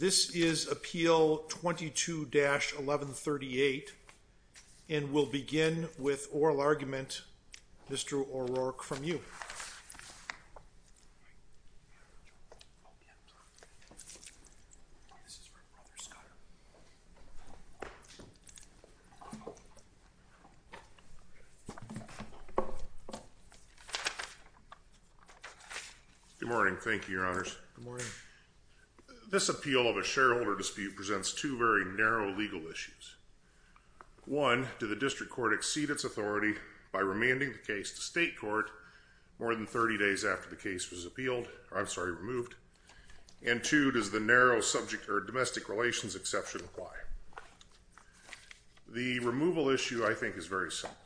This is Appeal 22-1138, and we'll begin with oral argument, Mr. O'Rourke, from you. Good morning. Thank you, Your Honors. Good morning. This appeal of a shareholder dispute presents two very narrow legal issues. One, does the district court exceed its authority by remanding the case to state court more than 30 days after the case was appealed, or I'm sorry, removed? And two, does the narrow subject or domestic relations exception apply? The removal issue, I think, is very simple.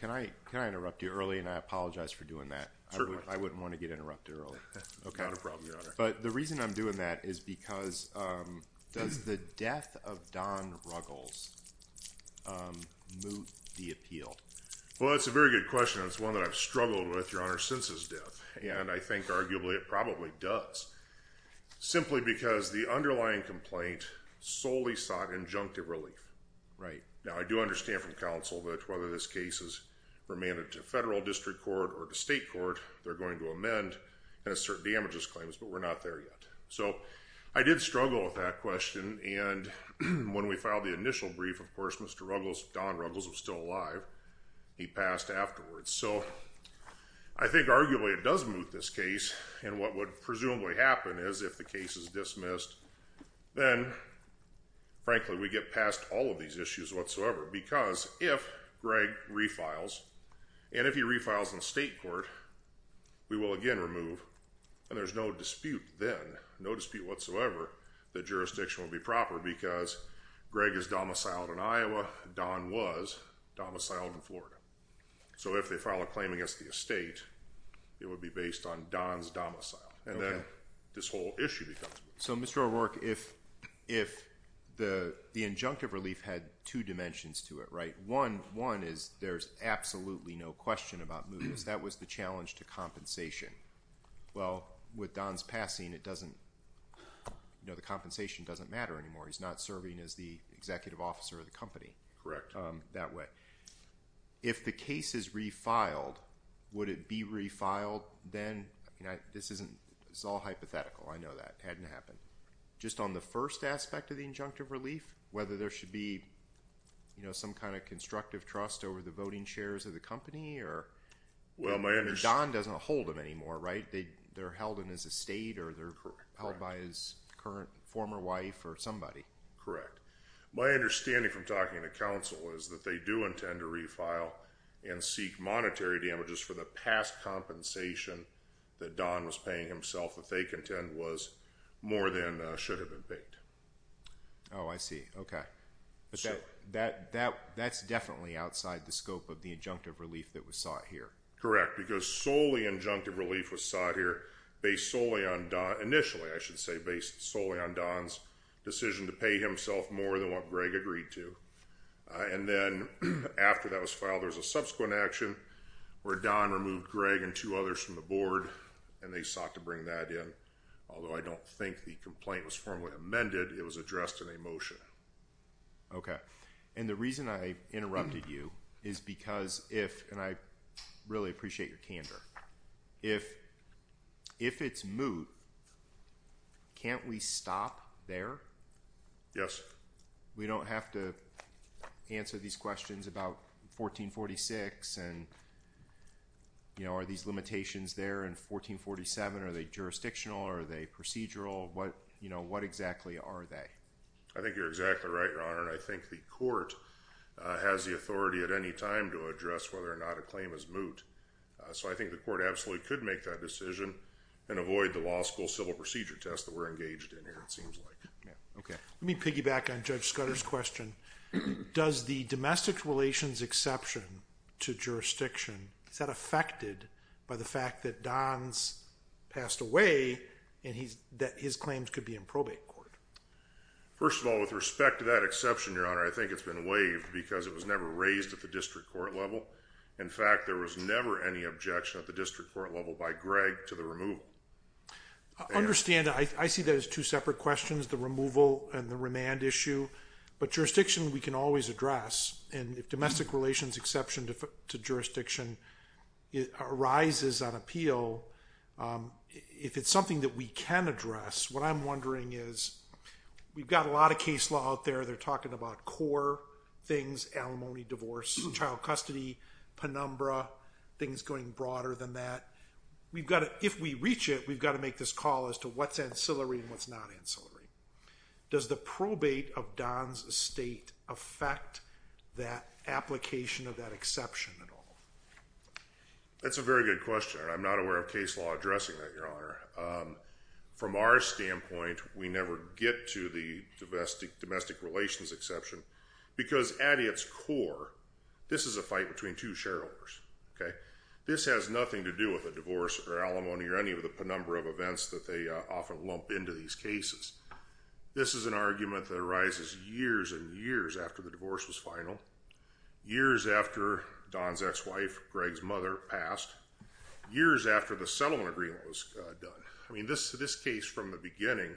Can I interrupt you early, and I apologize for doing that? Certainly. I wouldn't want to get interrupted early. Not a problem, Your Honor. But the reason I'm doing that is because does the death of Don Ruggles moot the appeal? Well, that's a very good question, and it's one that I've struggled with, Your Honor, since his death, and I think arguably it probably does, simply because the underlying complaint solely sought injunctive relief. Right. Now, I do understand from counsel that whether this case is remanded to federal district court or to state court, they're going to amend and assert damages claims, but we're not there yet. So I did struggle with that question, and when we filed the initial brief, of course, Mr. Ruggles, Don Ruggles, was still alive. He passed afterwards. So I think arguably it does moot this case, and what would presumably happen is if the case is dismissed, then, frankly, we get past all of these issues whatsoever because if Greg refiles, and if he refiles in state court, we will again remove, and there's no dispute then, no dispute whatsoever that jurisdiction will be proper because Greg is domiciled in Iowa. Don was domiciled in Florida. So if they file a claim against the estate, it would be based on Don's domicile, and then this whole issue becomes. So, Mr. O'Rourke, if the injunctive relief had two dimensions to it, right? One is there's absolutely no question about mootness. That was the challenge to compensation. Well, with Don's passing, the compensation doesn't matter anymore. He's not serving as the executive officer of the company. Correct. That way. If the case is refiled, would it be refiled then? This is all hypothetical. I know that. It hadn't happened. Just on the first aspect of the injunctive relief, whether there should be some kind of constructive trust over the voting shares of the company or... Well, my understanding... Don doesn't hold them anymore, right? They're held in his estate or they're held by his current former wife or somebody. Correct. My understanding from talking to counsel is that they do intend to refile and seek monetary damages for the past compensation that Don was paying himself that they contend was more than should have been paid. Oh, I see. Okay. That's definitely outside the scope of the injunctive relief that was sought here. Correct. Because solely injunctive relief was sought here, based solely on Don... Initially, I should say, based solely on Don's decision to pay himself more than what Greg agreed to. And then after that was filed, there was a subsequent action where Don removed Greg and two others from the board and they sought to bring that in. Although I don't think the complaint was formally amended, it was addressed in a motion. Okay. And the reason I interrupted you is because if, and I really appreciate your candor, if it's moot, can't we stop there? Yes. We don't have to answer these questions about 1446 and, you know, are these limitations there in 1447? Are they jurisdictional? Are they procedural? What, you know, what exactly are they? I think you're exactly right, Your Honor, and I think the court has the authority at any time to address whether or not a claim is moot. So I think the court absolutely could make that decision and avoid the law school civil procedure test that we're engaged in here, it seems like. Okay. Let me piggyback on Judge Scudder's question. Does the domestic relations exception to jurisdiction, is that affected by the fact that Don's passed away and that his claims could be in probate court? First of all, with respect to that exception, Your Honor, I think it's been waived because it was never raised at the district court level. In fact, there was never any objection at the district court level by Greg to the removal. I understand. I see that as two separate questions, the removal and the remand issue. But jurisdiction, we can always address. And if domestic relations exception to jurisdiction arises on appeal, if it's something that we can address, what I'm wondering is we've got a lot of case law out there. They're talking about core things, alimony, divorce, child custody, penumbra, things going broader than that. If we reach it, we've got to make this call as to what's ancillary and what's not ancillary. Does the probate of Don's estate affect that application of that exception at all? That's a very good question. I'm not aware of case law addressing that, Your Honor. From our standpoint, we never get to the domestic relations exception because at its core, this is a fight between two shareholders. Okay. This has nothing to do with a divorce or alimony or any of the penumbra of events that they often lump into these cases. This is an argument that arises years and years after the divorce was final, years after Don's ex-wife, Greg's mother, passed, years after the settlement agreement was done. I mean, this case from the beginning,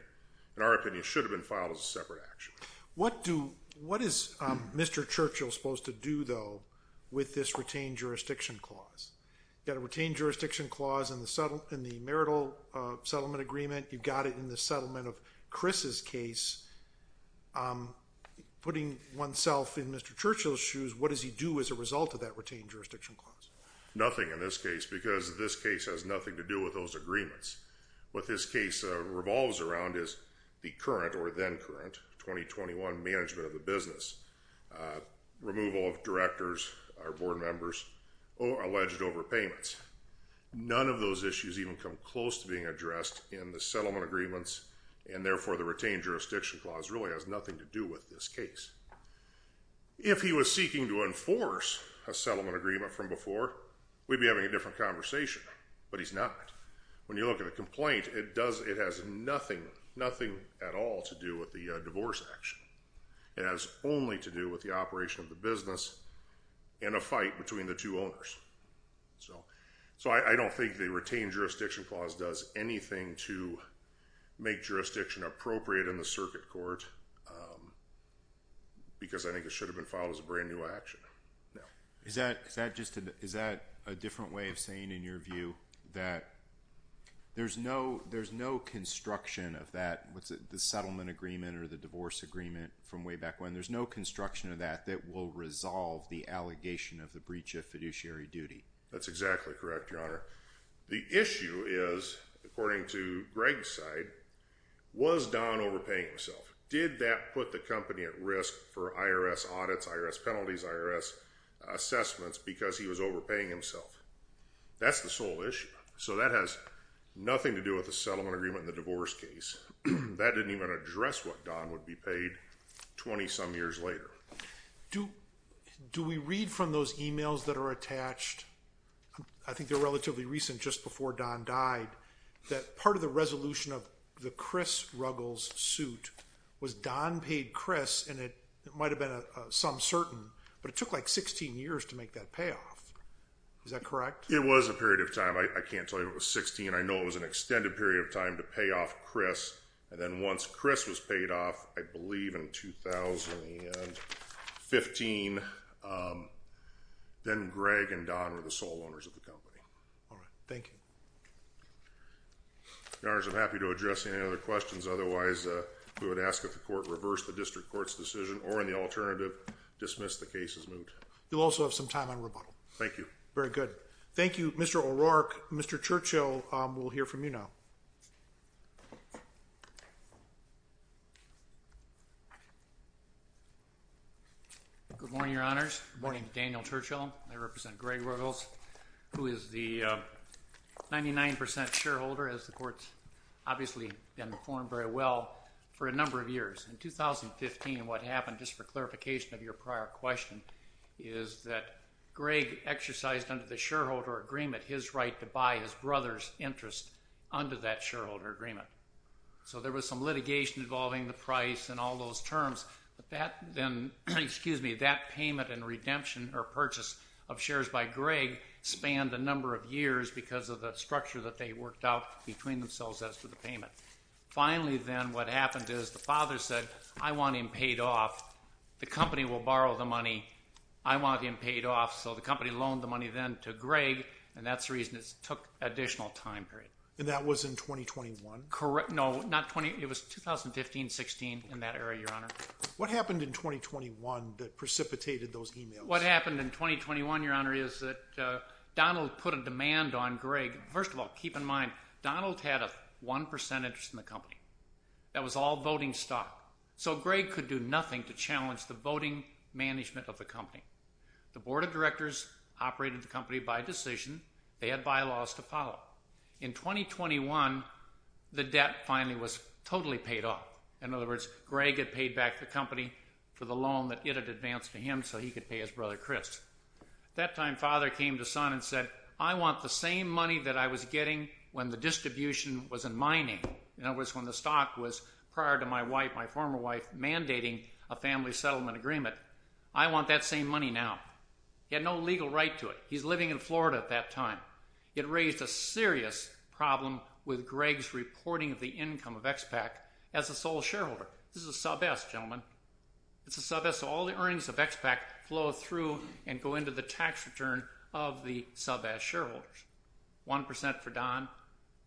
in our opinion, should have been filed as a separate action. What is Mr. Churchill supposed to do, though, with this retained jurisdiction clause? You've got a retained jurisdiction clause in the marital settlement agreement. You've got it in the settlement of Chris's case. Putting oneself in Mr. Churchill's shoes, what does he do as a result of that retained jurisdiction clause? Nothing in this case because this case has nothing to do with those agreements. What this case revolves around is the current or then current 2021 management of the business, removal of directors or board members or alleged overpayments. None of those issues even come close to being addressed in the settlement agreements, and therefore, the retained jurisdiction clause really has nothing to do with this case. If he was seeking to enforce a settlement agreement from before, we'd be having a different conversation, but he's not. When you look at a complaint, it has nothing at all to do with the divorce action. It has only to do with the operation of the business and a fight between the two owners. So I don't think the retained jurisdiction clause does anything to make jurisdiction appropriate in the circuit court because I think it should have been filed as a brand new action. Is that a different way of saying, in your view, that there's no construction of the settlement agreement or the divorce agreement from way back when? There's no construction of that that will resolve the allegation of the breach of fiduciary duty. That's exactly correct, Your Honor. The issue is, according to Greg's side, was Don overpaying himself? Did that put the company at risk for IRS audits, IRS penalties, IRS assessments because he was overpaying himself? That's the sole issue. So that has nothing to do with the settlement agreement and the divorce case. That didn't even address what Don would be paid 20-some years later. Do we read from those emails that are attached? I think they're relatively recent, just before Don died, that part of the resolution of the Chris Ruggles suit was Don paid Chris, and it might have been some certain, but it took like 16 years to make that payoff. Is that correct? It was a period of time. I can't tell you it was 16. I know it was an extended period of time to pay off Chris, and then once Chris was paid off, I believe in 2015, then Greg and Don were the sole owners of the company. All right. Thank you. Your Honor, I'm happy to address any other questions. Otherwise, we would ask that the court reverse the district court's decision or, in the alternative, dismiss the case as moved. You'll also have some time on rebuttal. Very good. Thank you, Mr. O'Rourke. Mr. Churchill will hear from you now. Good morning, Your Honors. Good morning to Daniel Churchill. I represent Greg Ruggles, who is the 99% shareholder, as the court's obviously been informed very well for a number of years. In 2015, what happened, just for clarification of your prior question, is that Greg exercised under the shareholder agreement his right to buy his brother's interest under that shareholder agreement. So there was some litigation involving the price and all those terms, but that payment and redemption or purchase of shares by Greg spanned a number of years because of the structure that they worked out between themselves as to the payment. Finally, then, what happened is the father said, I want him paid off. The company will borrow the money. I want him paid off. So the company loaned the money then to Greg, and that's the reason it took an additional time period. And that was in 2021? Correct. No, not 20—it was 2015-16, in that era, Your Honor. What happened in 2021 that precipitated those emails? What happened in 2021, Your Honor, is that Donald put a demand on Greg. First of all, keep in mind, Donald had a 1% interest in the company. That was all voting stock. So Greg could do nothing to challenge the voting management of the company. The board of directors operated the company by decision. They had bylaws to follow. In 2021, the debt finally was totally paid off. In other words, Greg had paid back the company for the loan that it had advanced to him so he could pay his brother, Chris. At that time, father came to son and said, I want the same money that I was getting when the distribution was in mining. In other words, when the stock was, prior to my wife, my former wife, mandating a family settlement agreement. I want that same money now. He had no legal right to it. He's living in Florida at that time. It raised a serious problem with Greg's reporting of the income of XPAC as a sole shareholder. This is a sub S, gentlemen. It's a sub S, so all the earnings of XPAC flow through and go into the tax return of the sub S shareholders. 1% for Don,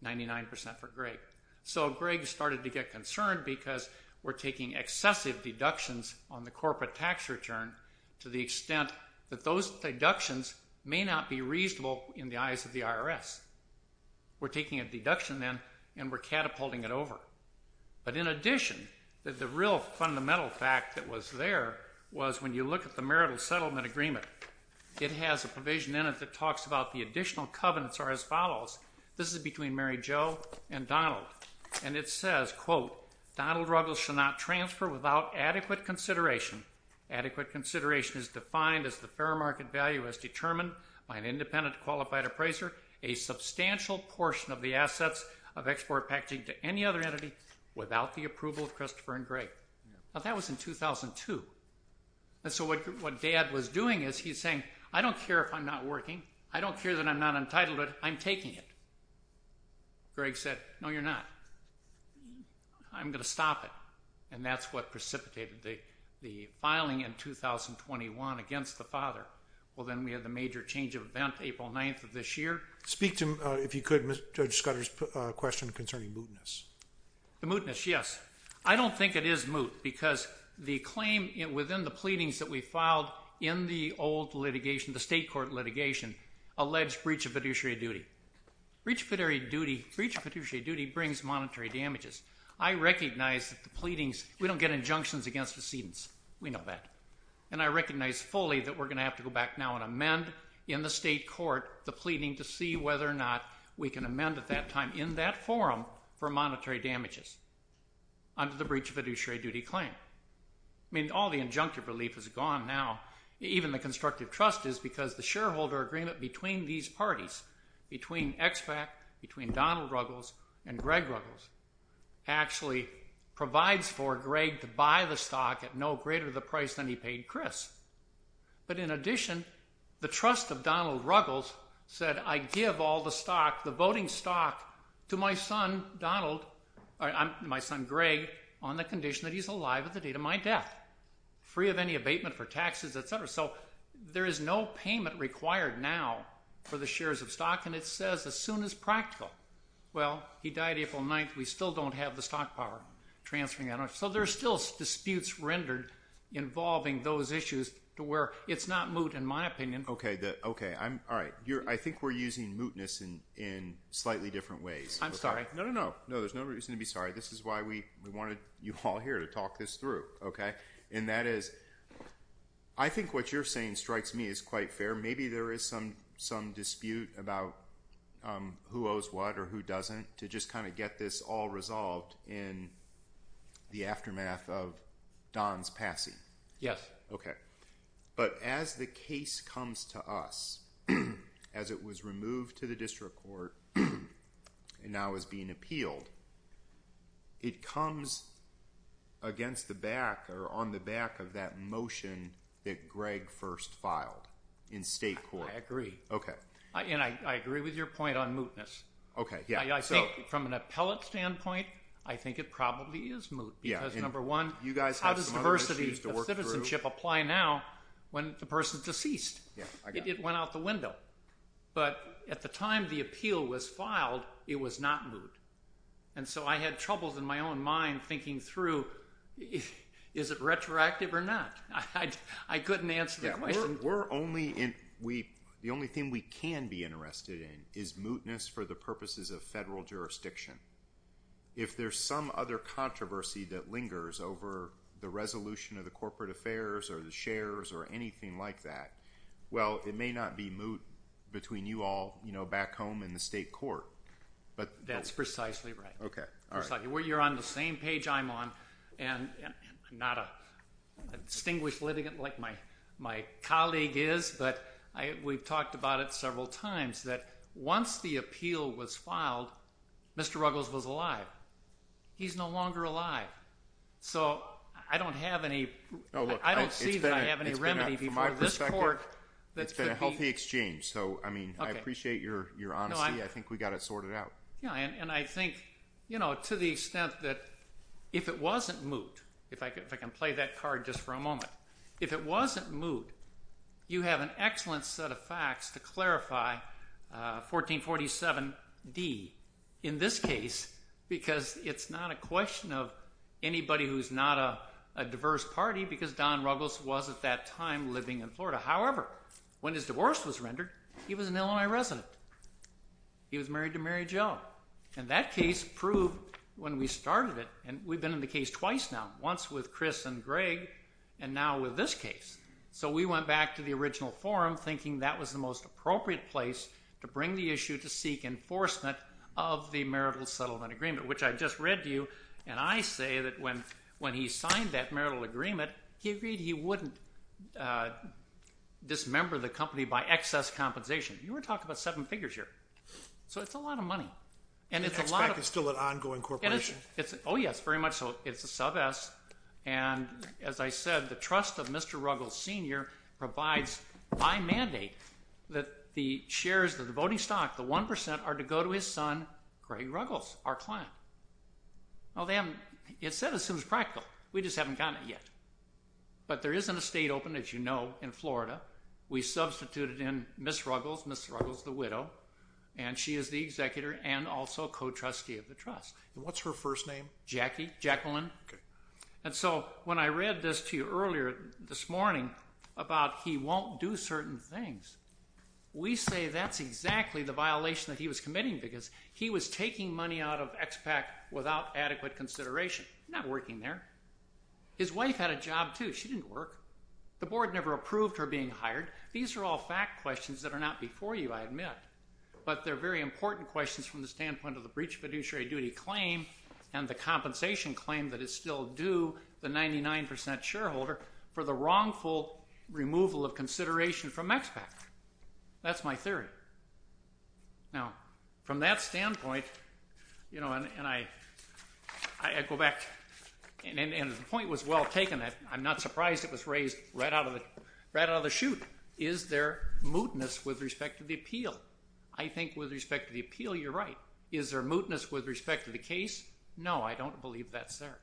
99% for Greg. So Greg started to get concerned because we're taking excessive deductions on the corporate tax return to the extent that those deductions may not be reasonable in the eyes of the IRS. We're taking a deduction then and we're catapulting it over. But in addition, the real fundamental fact that was there was when you look at the marital settlement agreement. It has a provision in it that talks about the additional covenants are as follows. This is between Mary Jo and Donald. And it says, quote, Donald Ruggles should not transfer without adequate consideration. Adequate consideration is defined as the fair market value as determined by an independent qualified appraiser, a substantial portion of the assets of export packaging to any other entity without the approval of Christopher and Greg. Now, that was in 2002. And so what Dad was doing is he's saying, I don't care if I'm not working. I don't care that I'm not entitled to it. I'm taking it. Greg said, no, you're not. I'm going to stop it. And that's what precipitated the filing in 2021 against the father. Well, then we had the major change of event April 9th of this year. Speak to, if you could, Judge Scudder's question concerning mootness. The mootness, yes. I don't think it is moot because the claim within the pleadings that we filed in the old litigation, the state court litigation, alleged breach of fiduciary duty. Breach of fiduciary duty brings monetary damages. I recognize that the pleadings, we don't get injunctions against decedents. We know that. And I recognize fully that we're going to have to go back now and amend in the state court the pleading to see whether or not we can amend at that time in that forum for monetary damages under the breach of fiduciary duty claim. I mean, all the injunctive relief is gone now. Even the constructive trust is because the shareholder agreement between these parties, between EXPAC, between Donald Ruggles and Greg Ruggles, actually provides for Greg to buy the stock at no greater the price than he paid Chris. But in addition, the trust of Donald Ruggles said, I give all the stock, the voting stock, to my son, Donald, my son Greg, on the condition that he's alive at the date of my death, free of any abatement for taxes, et cetera. So there is no payment required now for the shares of stock. And it says as soon as practical. Well, he died April 9th. We still don't have the stock power transferring. So there are still disputes rendered involving those issues to where it's not moot in my opinion. Okay. All right. I think we're using mootness in slightly different ways. I'm sorry. No, no, no. No, there's no reason to be sorry. This is why we wanted you all here to talk this through. Okay. And that is I think what you're saying strikes me as quite fair. Maybe there is some dispute about who owes what or who doesn't to just kind of get this all resolved in the aftermath of Don's passing. Yes. Okay. But as the case comes to us, as it was removed to the district court and now is being appealed, it comes against the back or on the back of that motion that Greg first filed in state court. I agree. Okay. And I agree with your point on mootness. Okay. I think from an appellate standpoint, I think it probably is moot because, number one, how does diversity of citizenship apply now when the person is deceased? It went out the window. But at the time the appeal was filed, it was not moot. And so I had troubles in my own mind thinking through is it retroactive or not. I couldn't answer that question. The only thing we can be interested in is mootness for the purposes of federal jurisdiction. If there's some other controversy that lingers over the resolution of the corporate affairs or the shares or anything like that, well, it may not be moot between you all back home in the state court. That's precisely right. Okay. We've talked about it several times that once the appeal was filed, Mr. Ruggles was alive. He's no longer alive. So I don't have any – I don't see that I have any remedy before this court. It's been a healthy exchange. So, I mean, I appreciate your honesty. I think we got it sorted out. Yeah, and I think, you know, to the extent that if it wasn't moot, if I can play that card just for a moment. If it wasn't moot, you have an excellent set of facts to clarify 1447D in this case because it's not a question of anybody who's not a diverse party because Don Ruggles was at that time living in Florida. However, when his divorce was rendered, he was an Illinois resident. He was married to Mary Jo. And that case proved when we started it, and we've been in the case twice now, once with Chris and Greg and now with this case. So we went back to the original forum thinking that was the most appropriate place to bring the issue to seek enforcement of the marital settlement agreement, which I just read to you. And I say that when he signed that marital agreement, he agreed he wouldn't dismember the company by excess compensation. You were talking about seven figures here. So it's a lot of money. And EXPAC is still an ongoing corporation. Oh, yes, very much so. It's a sub-S. And as I said, the trust of Mr. Ruggles, Sr. provides by mandate that the shares of the voting stock, the 1%, are to go to his son, Greg Ruggles, our client. Well, it's set as soon as practical. We just haven't gotten it yet. But there is an estate open, as you know, in Florida. We substituted in Ms. Ruggles, Ms. Ruggles the widow, and she is the executor and also co-trustee of the trust. And what's her first name? Jackie, Jacqueline. And so when I read this to you earlier this morning about he won't do certain things, we say that's exactly the violation that he was committing because he was taking money out of EXPAC without adequate consideration. He's not working there. His wife had a job, too. She didn't work. The board never approved her being hired. These are all fact questions that are not before you, I admit. But they're very important questions from the standpoint of the breach of fiduciary duty claim and the compensation claim that is still due the 99% shareholder for the wrongful removal of consideration from EXPAC. That's my theory. Now, from that standpoint, you know, and I go back, and the point was well taken. I'm not surprised it was raised right out of the chute. Is there mootness with respect to the appeal? I think with respect to the appeal, you're right. Is there mootness with respect to the case? No, I don't believe that's there.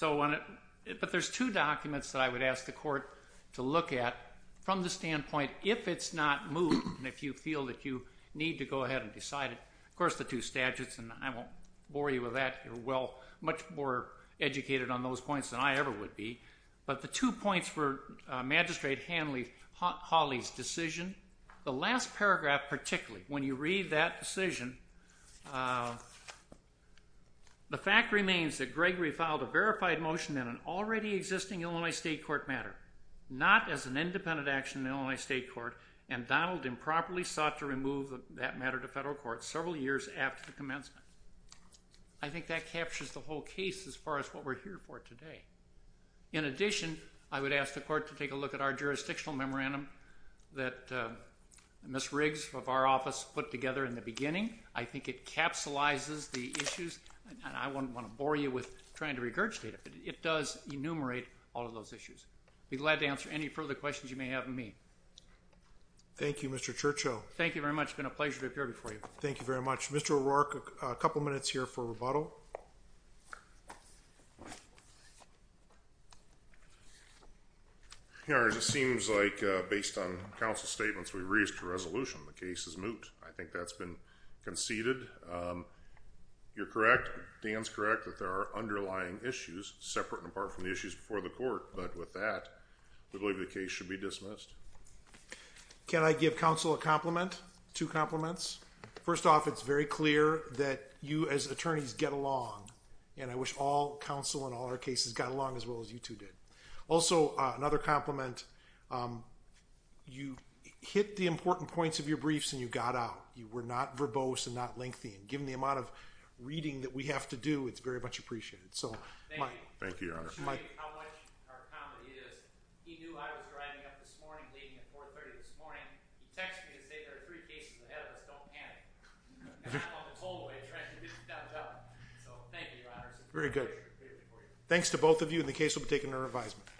But there's two documents that I would ask the court to look at from the standpoint if it's not moot and if you feel that you need to go ahead and decide it. Of course, the two statutes, and I won't bore you with that. You're, well, much more educated on those points than I ever would be. But the two points were Magistrate Hanley Hawley's decision. The last paragraph particularly, when you read that decision, the fact remains that Gregory filed a verified motion in an already existing Illinois state court matter, not as an independent action in Illinois state court, and Donald improperly sought to remove that matter to federal court several years after the commencement. I think that captures the whole case as far as what we're here for today. In addition, I would ask the court to take a look at our jurisdictional memorandum that Ms. Riggs of our office put together in the beginning. I think it capsulizes the issues, and I wouldn't want to bore you with trying to regurgitate it, but it does enumerate all of those issues. I'd be glad to answer any further questions you may have of me. Thank you, Mr. Churchill. Thank you very much. It's been a pleasure to appear before you. Thank you very much. Mr. O'Rourke, a couple minutes here for rebuttal. Your Honor, it seems like based on counsel's statements, we've reached a resolution. The case is moot. I think that's been conceded. You're correct, Dan's correct, that there are underlying issues separate and apart from the issues before the court, but with that, we believe the case should be dismissed. Can I give counsel a compliment, two compliments? First off, it's very clear that you as attorneys get along, and I wish all counsel in all our cases got along as well as you two did. Also, another compliment, you hit the important points of your briefs and you got out. You were not verbose and not lengthy, and given the amount of reading that we have to do, it's very much appreciated. Thank you, Your Honor. He knew I was driving up this morning, leaving at 4.30 this morning. He texted me to say there are three cases ahead of us, don't panic. I'm on the tollway trying to get that done. So thank you, Your Honor. Very good. Thanks to both of you, and the case will be taken to revisement.